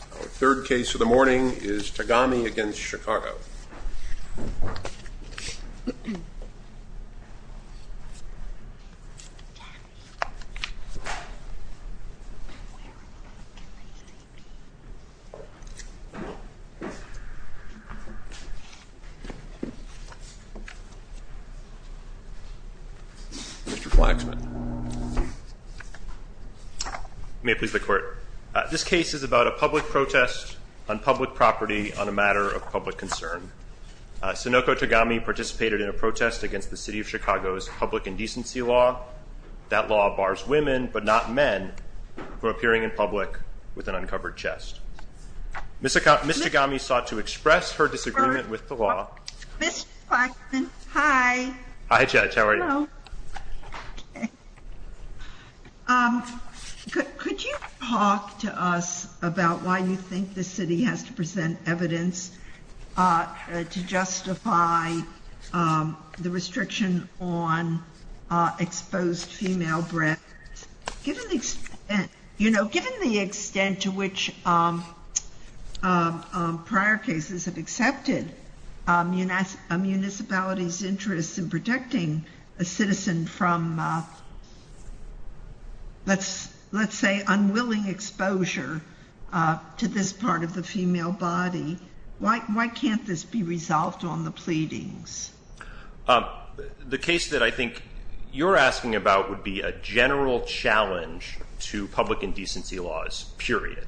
Our third case of the morning is Tagami v. Chicago. Mr. Flaxman. May it please the court. This case is about a public protest on public property on a matter of public concern. Sonoku Tagami participated in a protest against the City of Chicago's public indecency law. That law bars women, but not men, from appearing in public with an uncovered chest. Ms. Tagami sought to express her disagreement with the law. Ms. Flaxman, hi. Hi Judge, how are you? Could you talk to us about why you think the city has to present evidence to justify the restriction on exposed female breasts? Given the extent to which prior cases have accepted a municipality's interest in protecting a citizen from, let's say, unwilling exposure to this part of the female body, why can't this be resolved on the pleadings? The case that I think you're asking about would be a general challenge to public indecency laws, period.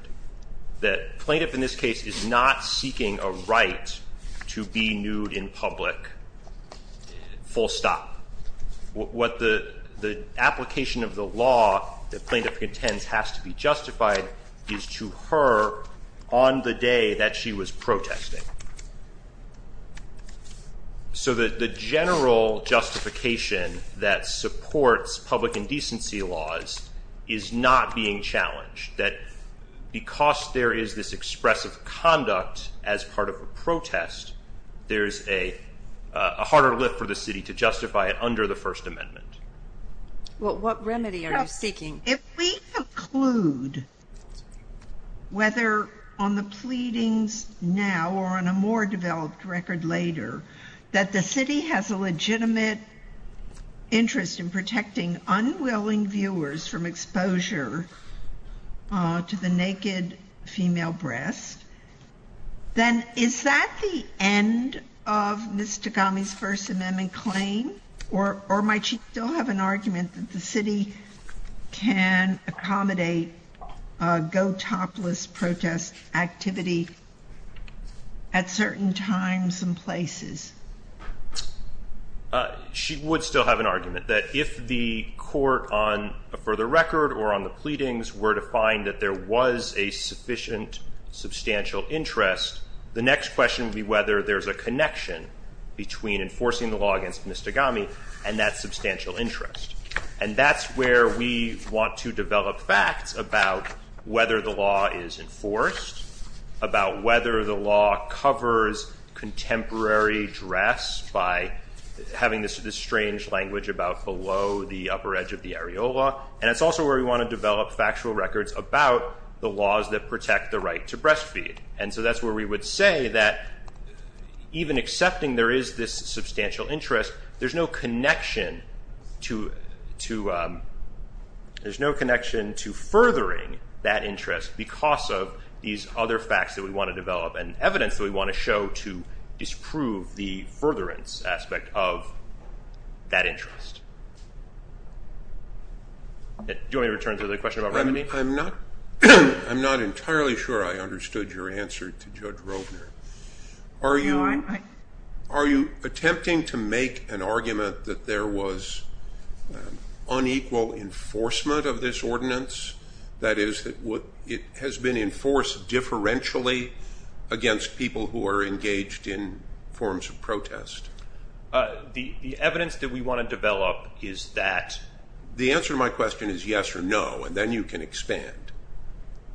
The plaintiff in this case is not seeking a right to be nude in public, full stop. What the application of the law the plaintiff contends has to be justified is to her on the day that she was protesting. So the general justification that supports public indecency laws is not being challenged. Because there is this expressive conduct as part of a protest, there is a harder lift for the city to justify it under the First Amendment. If we conclude, whether on the pleadings now or on a more developed record later, that the city has a legitimate interest in protecting unwilling viewers from exposure to the naked female breast, then is that the end of Ms. Tagami's First Amendment claim? Or might she still have an argument that the city can accommodate a go-topless protest activity at certain times and places? She would still have an argument that if the court on a further record or on the pleadings were to find that there was a sufficient substantial interest, the next question would be whether there's a connection between enforcing the law against Ms. Tagami and that substantial interest. And that's where we want to develop facts about whether the law is enforced, about whether the law covers contemporary dress by having this strange language about below the upper edge of the areola. And it's also where we want to develop factual records about the laws that protect the right to breastfeed. And so that's where we would say that even accepting there is this substantial interest, there's no connection to furthering that interest because of these other facts that we want to develop and evidence that we want to show to disprove the furtherance aspect of that interest. Do you want me to return to the question about remedy? I'm not entirely sure I understood your answer to Judge Rovner. Are you attempting to make an argument that there was unequal enforcement of this ordinance? That is, it has been enforced differentially against people who are engaged in forms of protest? The evidence that we want to develop is that... The answer to my question is yes or no, and then you can expand.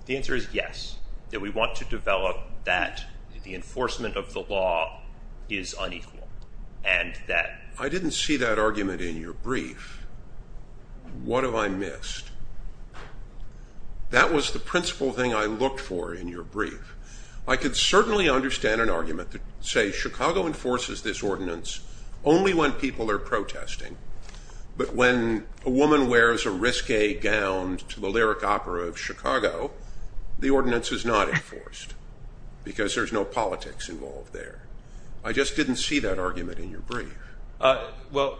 The answer is yes, that we want to develop that the enforcement of the law is unequal and that... I didn't see that argument in your brief. What have I missed? That was the principal thing I looked for in your brief. I could certainly understand an argument to say Chicago enforces this ordinance only when people are protesting. But when a woman wears a risque gown to the Lyric Opera of Chicago, the ordinance is not enforced because there's no politics involved there. I just didn't see that argument in your brief. Well,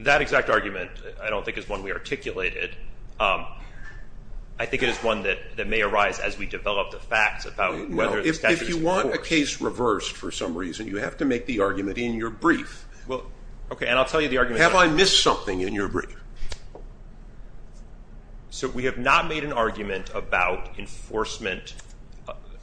that exact argument I don't think is one we articulated. I think it is one that may arise as we develop the facts about whether the statute is enforced. If you want a case reversed for some reason, you have to make the argument in your brief. Have I missed something in your brief? So we have not made an argument about enforcement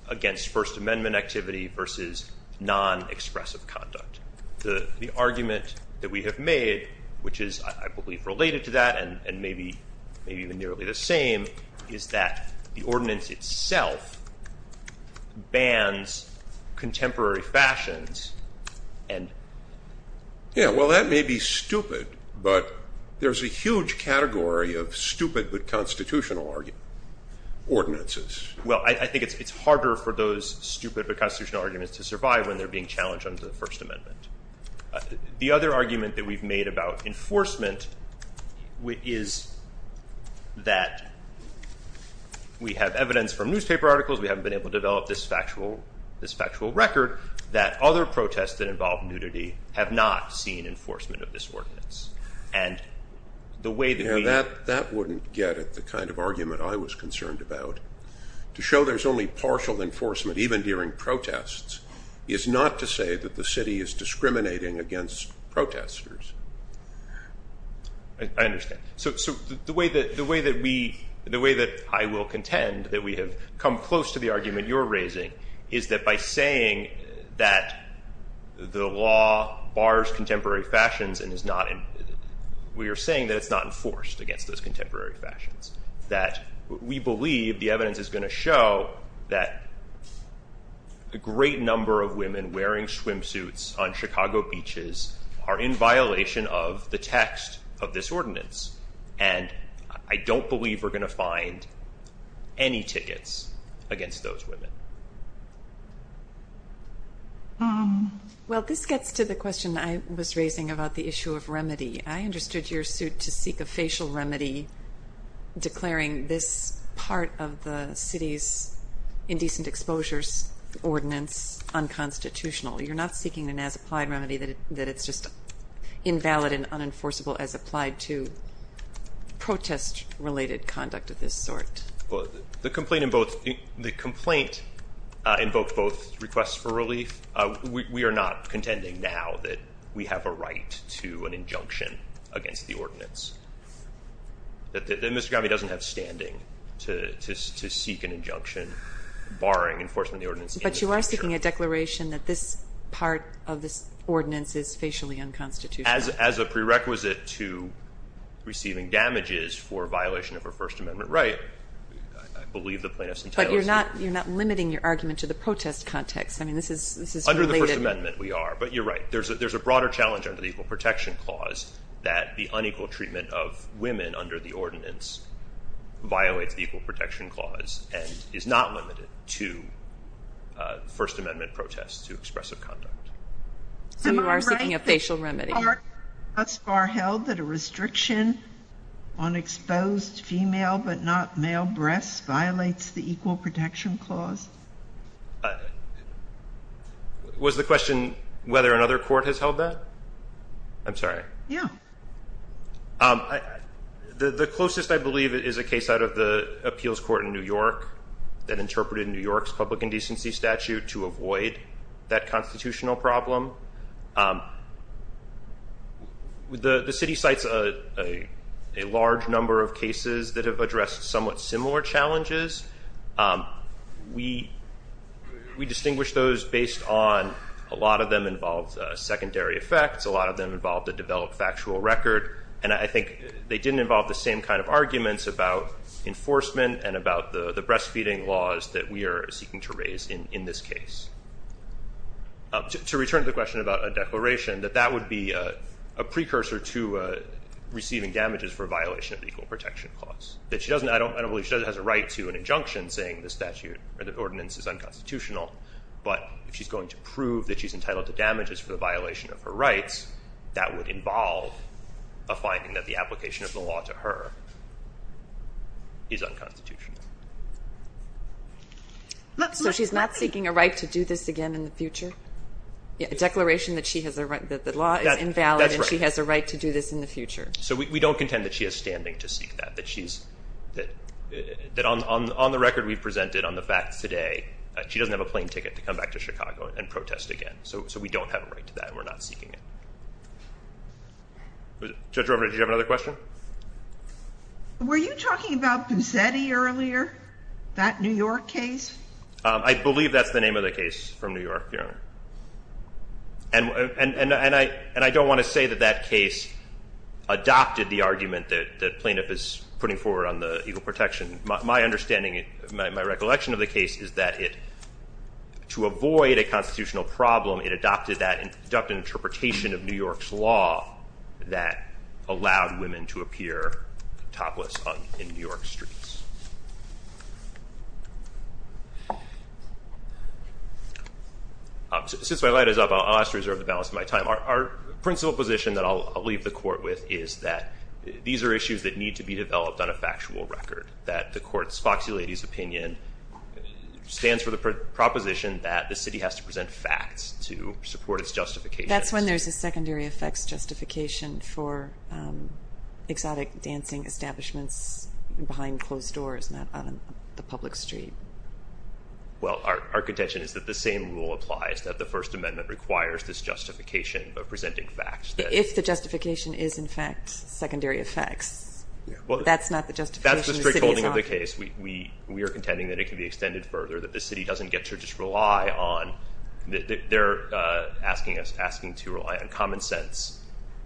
against First Amendment activity versus non-expressive conduct. The argument that we have made, which is, I believe, related to that and maybe even nearly the same, is that the ordinance itself bans contemporary fashions and... Yeah, well, that may be stupid, but there's a huge category of stupid but constitutional ordinances. Well, I think it's harder for those stupid but constitutional arguments to survive when they're being challenged under the First Amendment. The other argument that we've made about enforcement is that we have evidence from newspaper articles, we haven't been able to develop this factual record, that other protests that involve nudity have not seen enforcement of this ordinance. That wouldn't get at the kind of argument I was concerned about. To show there's only partial enforcement, even during protests, is not to say that the city is discriminating against protesters. I understand. So the way that I will contend that we have come close to the argument you're raising is that by saying that the law bars contemporary fashions and we are saying that it's not enforced against those contemporary fashions, that we believe the evidence is going to show that a great number of women wearing swimsuits on Chicago beaches are in violation of the text of this ordinance, and I don't believe we're going to find any tickets against those women. Well, this gets to the question I was raising about the issue of remedy. I understood your suit to seek a facial remedy declaring this part of the city's indecent exposures ordinance unconstitutional. You're not seeking an as-applied remedy that it's just invalid and unenforceable as applied to protest-related conduct of this sort. The complaint invoked both requests for relief. We are not contending now that we have a right to an injunction against the ordinance. Mr. Grommey doesn't have standing to seek an injunction barring enforcement of the ordinance. But you are seeking a declaration that this part of this ordinance is facially unconstitutional. As a prerequisite to receiving damages for violation of a First Amendment right, I believe the plaintiff's entitled to it. But you're not limiting your argument to the protest context. Under the First Amendment, we are, but you're right. There's a broader challenge under the Equal Protection Clause that the unequal treatment of women under the ordinance violates the Equal Protection Clause and is not limited to First Amendment protests to expressive conduct. Some of you are seeking a facial remedy. Am I right that the court thus far held that a restriction on exposed female but not male breasts violates the Equal Protection Clause? Was the question whether another court has held that? I'm sorry. Yeah. The closest I believe is a case out of the appeals court in New York that interpreted New York's public indecency statute to avoid that constitutional problem. The city cites a large number of cases that have addressed somewhat similar challenges. We distinguish those based on a lot of them involved secondary effects. A lot of them involved a developed factual record. And I think they didn't involve the same kind of arguments about enforcement and about the breastfeeding laws that we are seeking to raise in this case. To return to the question about a declaration, that that would be a precursor to receiving damages for a violation of the Equal Protection Clause. I don't believe she has a right to an injunction saying the statute or the ordinance is unconstitutional. But if she's going to prove that she's entitled to damages for the violation of her rights, that would involve a finding that the application of the law to her is unconstitutional. So she's not seeking a right to do this again in the future? A declaration that the law is invalid and she has a right to do this in the future? So we don't contend that she has standing to seek that. That on the record we've presented on the facts today, she doesn't have a plane ticket to come back to Chicago and protest again. So we don't have a right to that and we're not seeking it. Judge Rovner, did you have another question? Were you talking about Busetti earlier? That New York case? And I don't want to say that that case adopted the argument that plaintiff is putting forward on the equal protection. My understanding, my recollection of the case is that to avoid a constitutional problem, it adopted an interpretation of New York's law that allowed women to appear topless in New York streets. Since my light is up, I'll ask to reserve the balance of my time. Our principal position that I'll leave the court with is that these are issues that need to be developed on a factual record, that the court's foxy lady's opinion stands for the proposition that the city has to present facts to support its justification. That's when there's a secondary effects justification for exotic dancing establishments behind closed doors, not on the public street. Well, our contention is that the same rule applies, that the First Amendment requires this justification of presenting facts. If the justification is, in fact, secondary effects, that's not the justification the city is offering. That's the strict holding of the case. We are contending that it can be extended further, that the city doesn't get to just rely on They're asking us, asking to rely on common sense.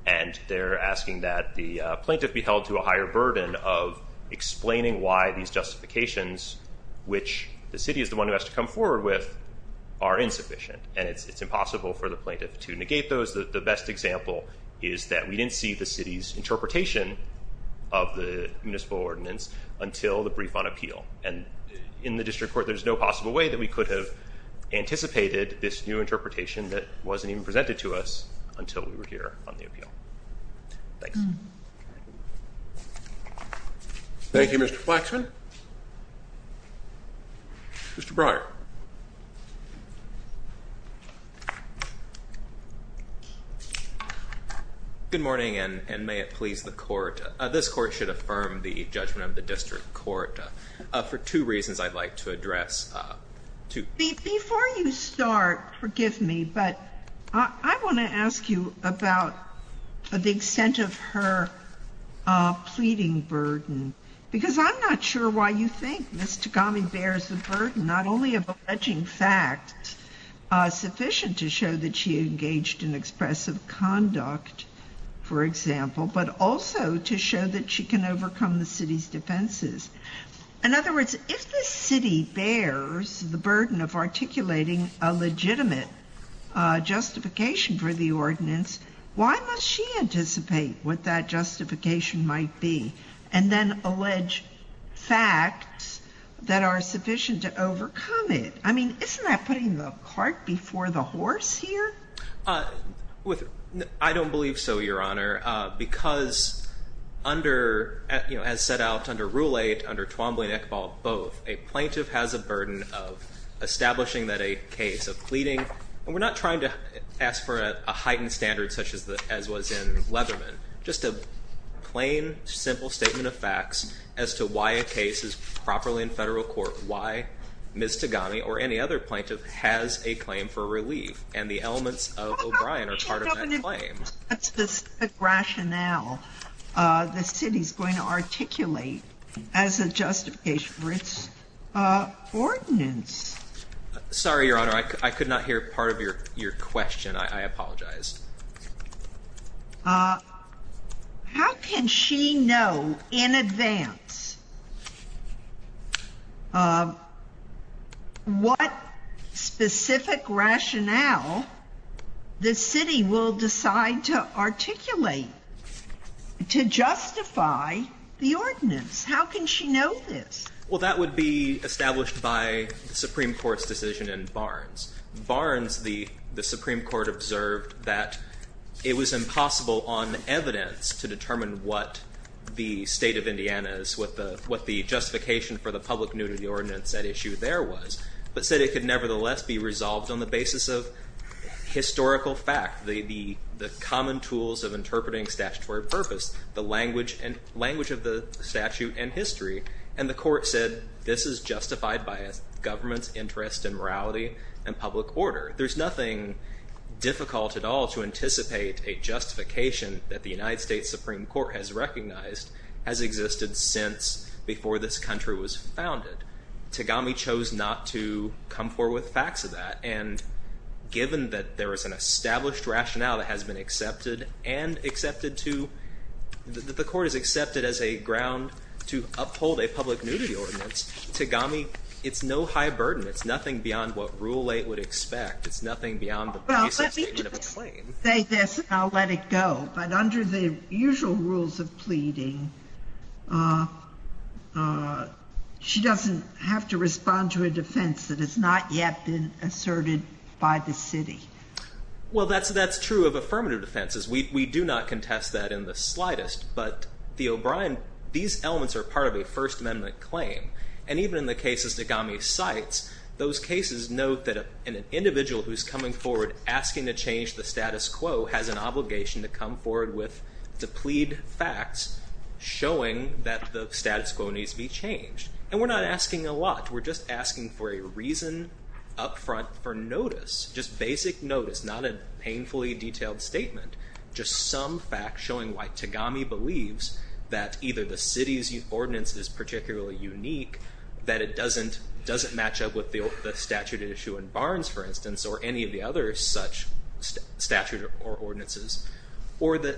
And they're asking that the plaintiff be held to a higher burden of explaining why these justifications, which the city is the one who has to come forward with, are insufficient. And it's impossible for the plaintiff to negate those. The best example is that we didn't see the city's interpretation of the municipal ordinance until the brief on appeal. And in the district court, there's no possible way that we could have anticipated this new interpretation that wasn't even presented to us until we were here on the appeal. Thank you. Thank you, Mr. Flaxman. Mr. Breyer. This court should affirm the judgment of the district court for two reasons I'd like to address. Before you start, forgive me, but I want to ask you about the extent of her pleading burden. Because I'm not sure why you think Ms. Tagami bears the burden not only of alleging facts sufficient to show that she engaged in expressive conduct, for example, but also to show that she can overcome the city's defenses. In other words, if the city bears the burden of articulating a legitimate justification for the ordinance, why must she anticipate what that justification might be and then allege facts that are sufficient to overcome it? I mean, isn't that putting the cart before the horse here? I don't believe so, Your Honor, because as set out under Rule 8, under Twombly and Iqbal, both, a plaintiff has a burden of establishing that a case of pleading, and we're not trying to ask for a heightened standard such as was in Leatherman, just a plain, simple statement of facts as to why a case is properly in federal court, why Ms. Tagami or any other plaintiff has a claim for relief and the elements of O'Brien are part of that claim. That's the rationale the city is going to articulate as a justification for its ordinance. Sorry, Your Honor, I could not hear part of your question. I apologize. How can she know in advance what specific rationale the city will decide to articulate to justify the ordinance? How can she know this? Well, that would be established by the Supreme Court's decision in Barnes. In Barnes, the Supreme Court observed that it was impossible on evidence to determine what the state of Indiana is, what the justification for the public nudity ordinance at issue there was, but said it could nevertheless be resolved on the basis of historical fact, the common tools of interpreting statutory purpose, the language of the statute and history. And the court said this is justified by a government's interest in morality and public order. There's nothing difficult at all to anticipate a justification that the United States Supreme Court has recognized has existed since before this country was founded. Tagami chose not to come forward with facts of that. And given that there is an established rationale that has been accepted and accepted to, that the court has accepted as a ground to uphold a public nudity ordinance, Tagami, it's no high burden. It's nothing beyond what Rule 8 would expect. It's nothing beyond the basic statement of a claim. Well, let me just say this and I'll let it go. But under the usual rules of pleading, she doesn't have to respond to a defense that has not yet been asserted by the city. Well, that's true of affirmative defenses. We do not contest that in the slightest. But the O'Brien, these elements are part of a First Amendment claim. And even in the cases Tagami cites, those cases note that an individual who's coming forward asking to change the status quo has an obligation to come forward with, to plead facts showing that the status quo needs to be changed. And we're not asking a lot. We're just asking for a reason up front for notice, just basic notice, not a painfully detailed statement. Just some fact showing why Tagami believes that either the city's ordinance is particularly unique, that it doesn't match up with the statute at issue in Barnes, for instance, or any of the other such statute or ordinances, or that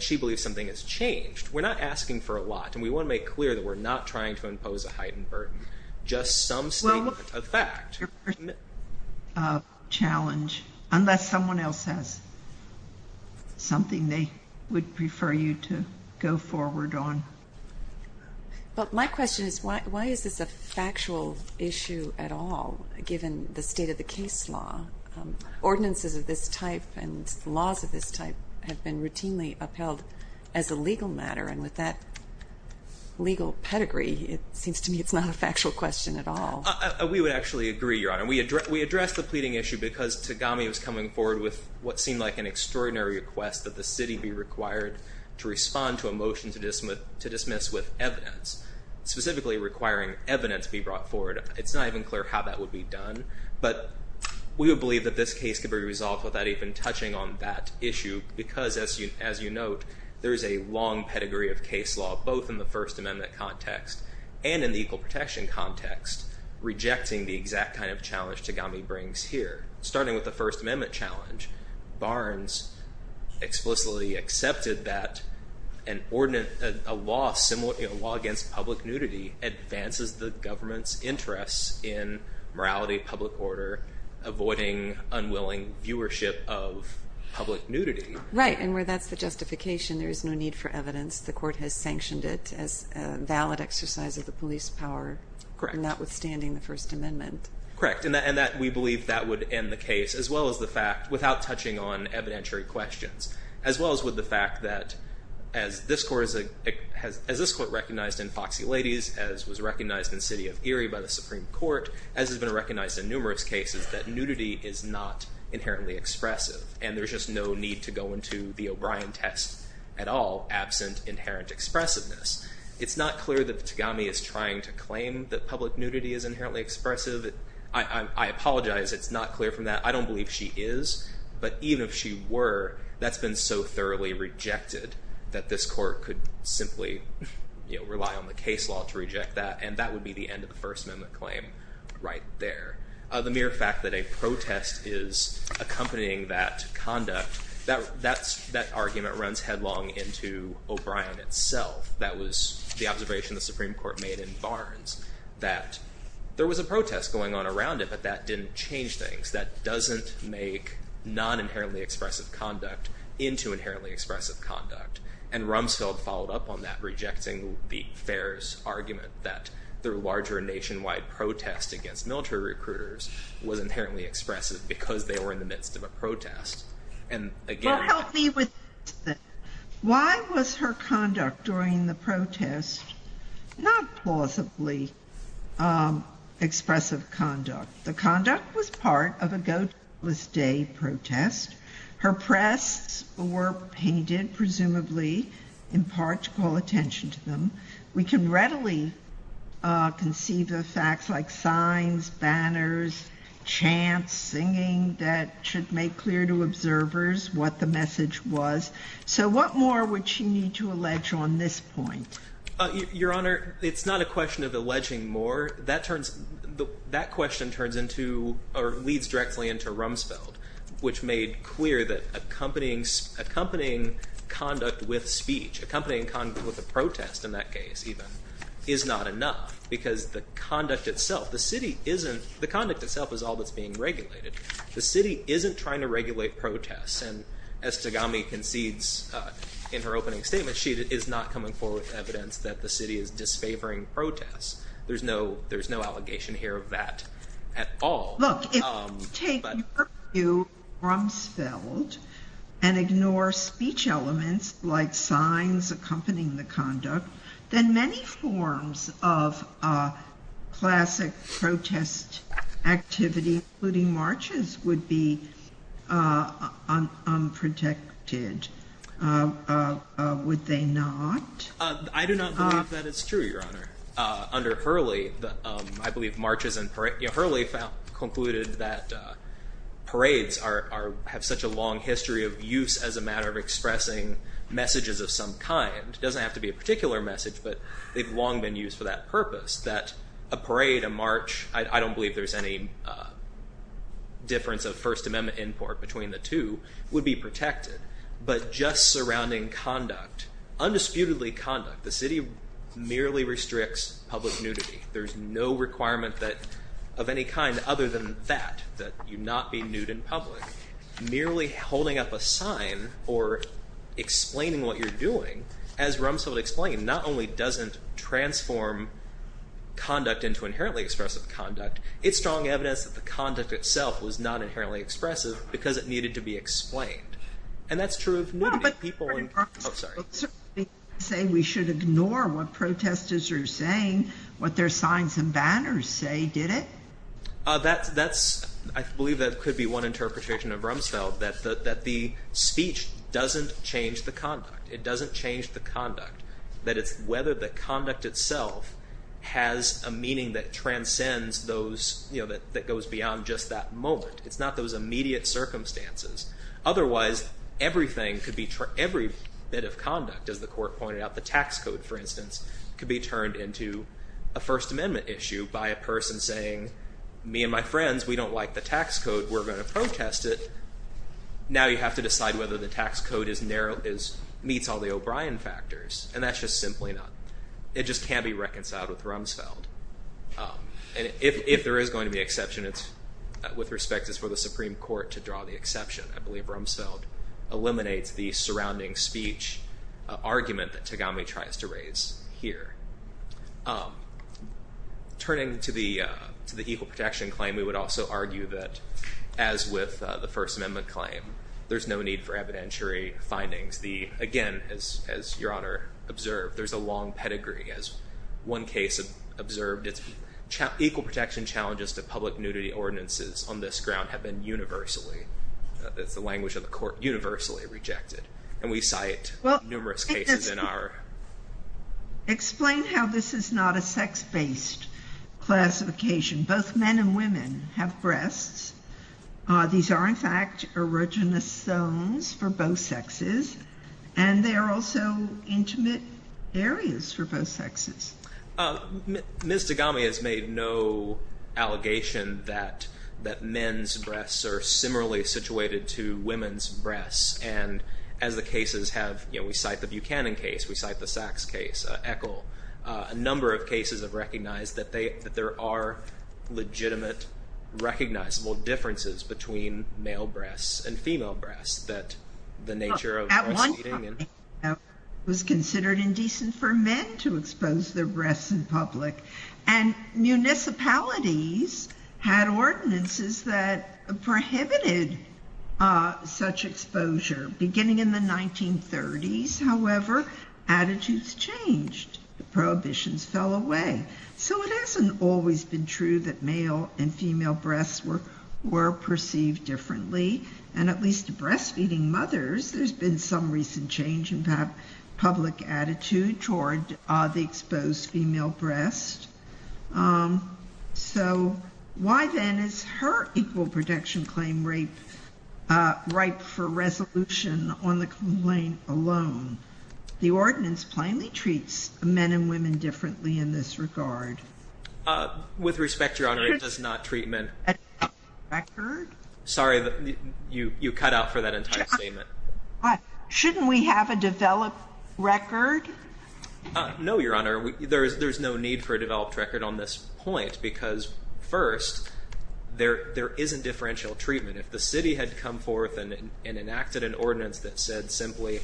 she believes something has changed. We're not asking for a lot. And we want to make clear that we're not trying to impose a heightened burden. Just some statement of fact. Well, your personal challenge, unless someone else has something they would prefer you to go forward on. But my question is, why is this a factual issue at all, given the state of the case law? Ordinances of this type and laws of this type have been routinely upheld as a legal matter. And with that legal pedigree, it seems to me it's not a factual question at all. We would actually agree, Your Honor. We addressed the pleading issue because Tagami was coming forward with what seemed like an extraordinary request that the city be required to respond to a motion to dismiss with evidence, specifically requiring evidence be brought forward. It's not even clear how that would be done. But we would believe that this case could be resolved without even touching on that issue. Because, as you note, there is a long pedigree of case law, both in the First Amendment context and in the equal protection context, rejecting the exact kind of challenge Tagami brings here. Starting with the First Amendment challenge, Barnes explicitly accepted that a law against public nudity advances the government's interests in morality, public order, avoiding unwilling viewership of public nudity. Right, and where that's the justification, there is no need for evidence. The court has sanctioned it as a valid exercise of the police power, notwithstanding the First Amendment. Correct, and we believe that would end the case as well as the fact, without touching on evidentiary questions, as well as with the fact that, as this court recognized in Foxy Ladies, as was recognized in City of Erie by the Supreme Court, as has been recognized in numerous cases, that nudity is not inherently expressive. And there's just no need to go into the O'Brien test at all, absent inherent expressiveness. It's not clear that Tagami is trying to claim that public nudity is inherently expressive. I apologize, it's not clear from that. I don't believe she is, but even if she were, that's been so thoroughly rejected that this court could simply rely on the case law to reject that. And that would be the end of the First Amendment claim right there. The mere fact that a protest is accompanying that conduct, that argument runs headlong into O'Brien itself. That was the observation the Supreme Court made in Barnes, that there was a protest going on around it, but that didn't change things. That doesn't make non-inherently expressive conduct into inherently expressive conduct. And Rumsfeld followed up on that, rejecting the Fehr's argument that the larger nationwide protest against military recruiters was inherently expressive, because they were in the midst of a protest. Well, help me with this then. Why was her conduct during the protest not plausibly expressive conduct? The conduct was part of a Goatless Day protest. Her press were painted, presumably, in part to call attention to them. We can readily conceive of facts like signs, banners, chants, singing, that should make clear to observers what the message was. So what more would she need to allege on this point? Your Honor, it's not a question of alleging more. That question leads directly into Rumsfeld, which made clear that accompanying conduct with speech, accompanying conduct with a protest in that case, even, is not enough, because the conduct itself, the city isn't, the conduct itself is all that's being regulated. The city isn't trying to regulate protests, and as Tagami concedes in her opening statement, she is not coming forward with evidence that the city is disfavoring protests. There's no allegation here of that at all. Look, if we take your view, Rumsfeld, and ignore speech elements like signs accompanying the conduct, then many forms of classic protest activity, including marches, would be unprotected, would they not? I do not believe that it's true, Your Honor. Under Hurley, I believe marches and parades, Hurley concluded that parades have such a long history of use as a matter of expressing messages of some kind. It doesn't have to be a particular message, but they've long been used for that purpose, that a parade, a march, I don't believe there's any difference of First Amendment import between the two, would be protected. But just surrounding conduct, undisputedly conduct, the city merely restricts public nudity. There's no requirement of any kind other than that, that you not be nude in public. Merely holding up a sign or explaining what you're doing, as Rumsfeld explained, not only doesn't transform conduct into inherently expressive conduct, it's strong evidence that the conduct itself was not inherently expressive, because it needed to be explained. And that's true of nudity. Well, but you said we should ignore what protesters are saying, what their signs and banners say, did it? That's, I believe that could be one interpretation of Rumsfeld, that the speech doesn't change the conduct. It doesn't change the conduct. That it's whether the conduct itself has a meaning that transcends those, you know, that goes beyond just that moment. It's not those immediate circumstances. Otherwise, everything could be, every bit of conduct, as the court pointed out, the tax code, for instance, could be turned into a First Amendment issue by a person saying, me and my friends, we don't like the tax code, we're going to protest it. Now you have to decide whether the tax code meets all the O'Brien factors, and that's just simply not. It just can't be reconciled with Rumsfeld. And if there is going to be exception, with respect, it's for the Supreme Court to draw the exception. I believe Rumsfeld eliminates the surrounding speech argument that Tagami tries to raise here. Turning to the equal protection claim, we would also argue that, as with the First Amendment claim, there's no need for evidentiary findings. Again, as Your Honor observed, there's a long pedigree. As one case observed, it's equal protection challenges to public nudity ordinances on this ground have been universally, that's the language of the court, universally rejected. And we cite numerous cases in our... Explain how this is not a sex-based classification. Both men and women have breasts. These are, in fact, erogenous zones for both sexes, and they are also intimate areas for both sexes. Ms. Tagami has made no allegation that men's breasts are similarly situated to women's breasts. And as the cases have, you know, we cite the Buchanan case, we cite the Sachs case, Eccle, a number of cases have recognized that there are legitimate, recognizable differences between male breasts and female breasts, that the nature of breastfeeding and... At one time, it was considered indecent for men to expose their breasts in public. And municipalities had ordinances that prohibited such exposure. Beginning in the 1930s, however, attitudes changed. Prohibitions fell away. So it hasn't always been true that male and female breasts were perceived differently. And at least to breastfeeding mothers, there's been some recent change in public attitude toward the exposed female breasts. So why, then, is her equal protection claim rape ripe for resolution on the complaint alone? The ordinance plainly treats men and women differently in this regard. With respect, Your Honor, it does not treat men... Sorry, you cut out for that entire statement. Shouldn't we have a developed record? No, Your Honor. There's no need for a developed record on this point because, first, there isn't differential treatment. If the city had come forth and enacted an ordinance that said simply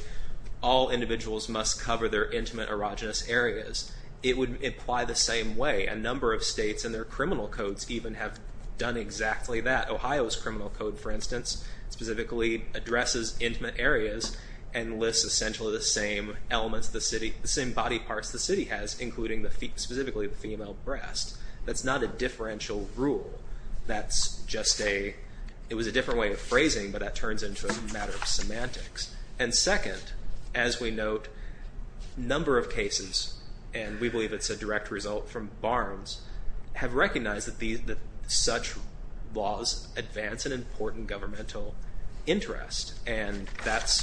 all individuals must cover their intimate erogenous areas, it would apply the same way. A number of states in their criminal codes even have done exactly that. Ohio's criminal code, for instance, specifically addresses intimate areas and lists essentially the same elements, the same body parts the city has, including specifically the female breast. That's not a differential rule. That's just a... It was a different way of phrasing, but that turns into a matter of semantics. And, second, as we note, a number of cases, and we believe it's a direct result from Barnes, have recognized that such laws advance an important governmental interest, and that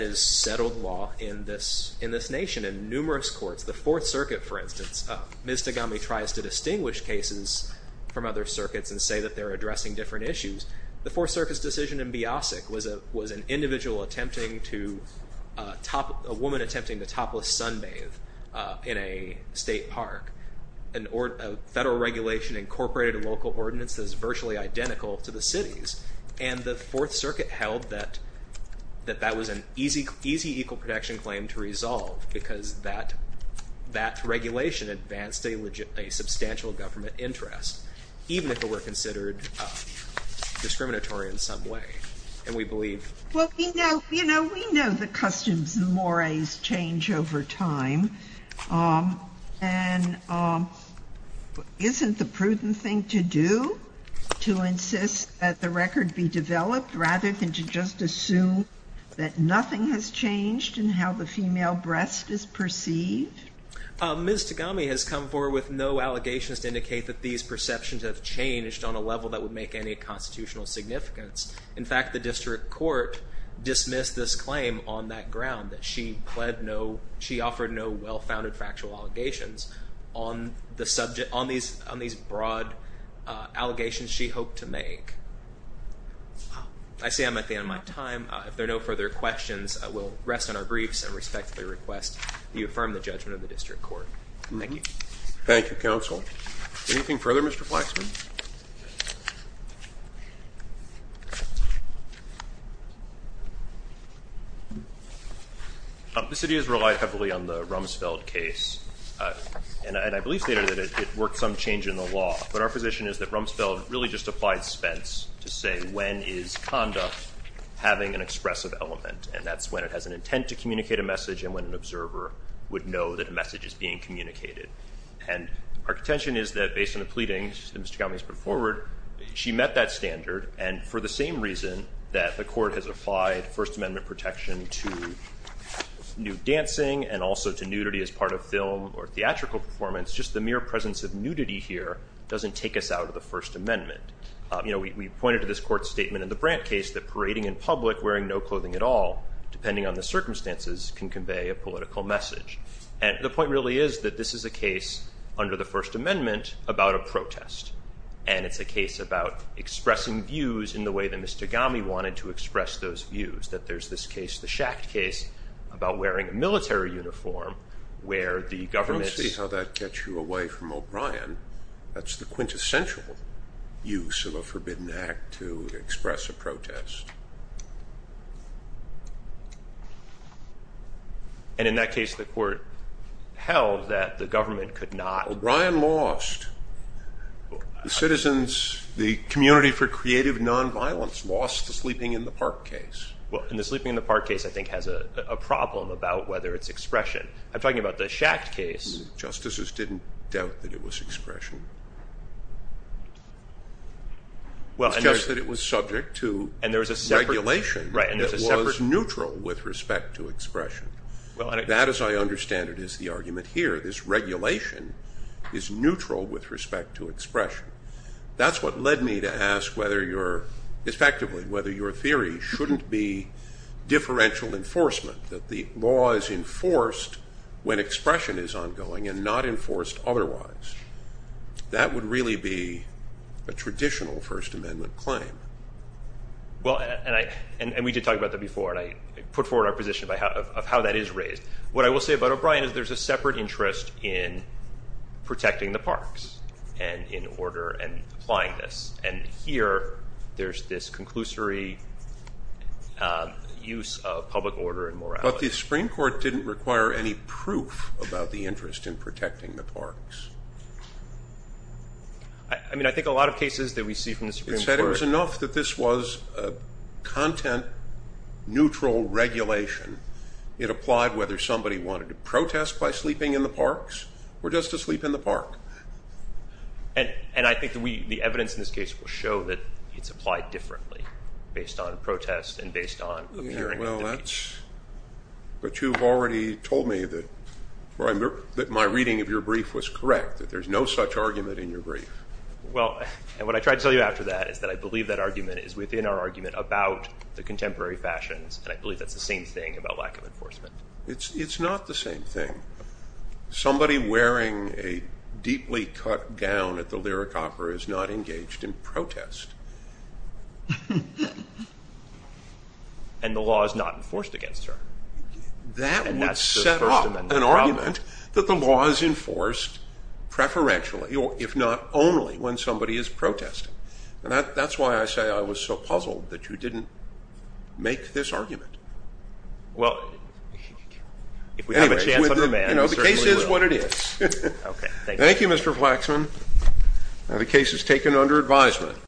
is settled law in this nation in numerous courts. The Fourth Circuit, for instance, Ms. Tagami tries to distinguish cases from other circuits and say that they're addressing different issues. The Fourth Circuit's decision in Biasic was an individual attempting to... a woman attempting to topless sunbathe in a state park. A federal regulation incorporated a local ordinance that is virtually identical to the city's, and the Fourth Circuit held that that was an easy equal protection claim to resolve because that regulation advanced a substantial government interest, even if it were considered discriminatory in some way. And we believe... Well, we know the customs and mores change over time, and isn't the prudent thing to do to insist that the record be developed rather than to just assume that nothing has changed in how the female breast is perceived? Ms. Tagami has come forward with no allegations to indicate that these perceptions have changed on a level that would make any constitutional significance. In fact, the district court dismissed this claim on that ground, that she offered no well-founded factual allegations on these broad allegations she hoped to make. I see I'm at the end of my time. If there are no further questions, I will rest on our briefs and respectfully request that you affirm the judgment of the district court. Thank you. Thank you, counsel. Anything further, Mr. Flaxman? The city has relied heavily on the Rumsfeld case, and I believe, Senator, that it worked some change in the law, but our position is that Rumsfeld really just applied Spence to say when is conduct having an expressive element, and that's when it has an intent to communicate a message and when an observer would know that a message is being communicated. And our contention is that based on the pleadings that Ms. Tagami has put forward, she met that standard, and for the same reason that the court has applied First Amendment protection to nude dancing and also to nudity as part of film or theatrical performance, just the mere presence of nudity here doesn't take us out of the First Amendment. You know, we pointed to this court statement in the Brandt case that parading in public wearing no clothing at all, depending on the circumstances, can convey a political message. And the point really is that this is a case under the First Amendment about a protest, and it's a case about expressing views in the way that Ms. Tagami wanted to express those views, that there's this case, the Schacht case, about wearing a military uniform where the government's I don't see how that gets you away from O'Brien. That's the quintessential use of a forbidden act to express a protest. And in that case the court held that the government could not O'Brien lost. The citizens, the community for creative nonviolence lost the Sleeping in the Park case. Well, and the Sleeping in the Park case I think has a problem about whether it's expression. I'm talking about the Schacht case. Justices didn't doubt that it was expression. It's just that it was subject to regulation that was neutral with respect to expression. That, as I understand it, is the argument here. This regulation is neutral with respect to expression. That's what led me to ask effectively whether your theory shouldn't be differential enforcement, that the law is enforced when expression is ongoing and not enforced otherwise. That would really be a traditional First Amendment claim. Well, and we did talk about that before, and I put forward our position of how that is raised. What I will say about O'Brien is there's a separate interest in protecting the parks and in order and applying this. And here there's this conclusory use of public order and morality. But the Supreme Court didn't require any proof about the interest in protecting the parks. I mean, I think a lot of cases that we see from the Supreme Court. It said it was enough that this was a content-neutral regulation. It applied whether somebody wanted to protest by sleeping in the parks or just to sleep in the park. And I think the evidence in this case will show that it's applied differently based on protest and based on appearing at the beach. But you've already told me that my reading of your brief was correct, that there's no such argument in your brief. Well, and what I tried to tell you after that is that I believe that argument is within our argument about the contemporary fashions, and I believe that's the same thing about lack of enforcement. It's not the same thing. Somebody wearing a deeply cut gown at the Lyric Opera is not engaged in protest. And the law is not enforced against her. That would set up an argument that the law is enforced preferentially, if not only, when somebody is protesting. And that's why I say I was so puzzled that you didn't make this argument. Well, if we have a chance under the ban, we certainly will. The case is what it is. Thank you, Mr. Flaxman. The case is taken under advisement.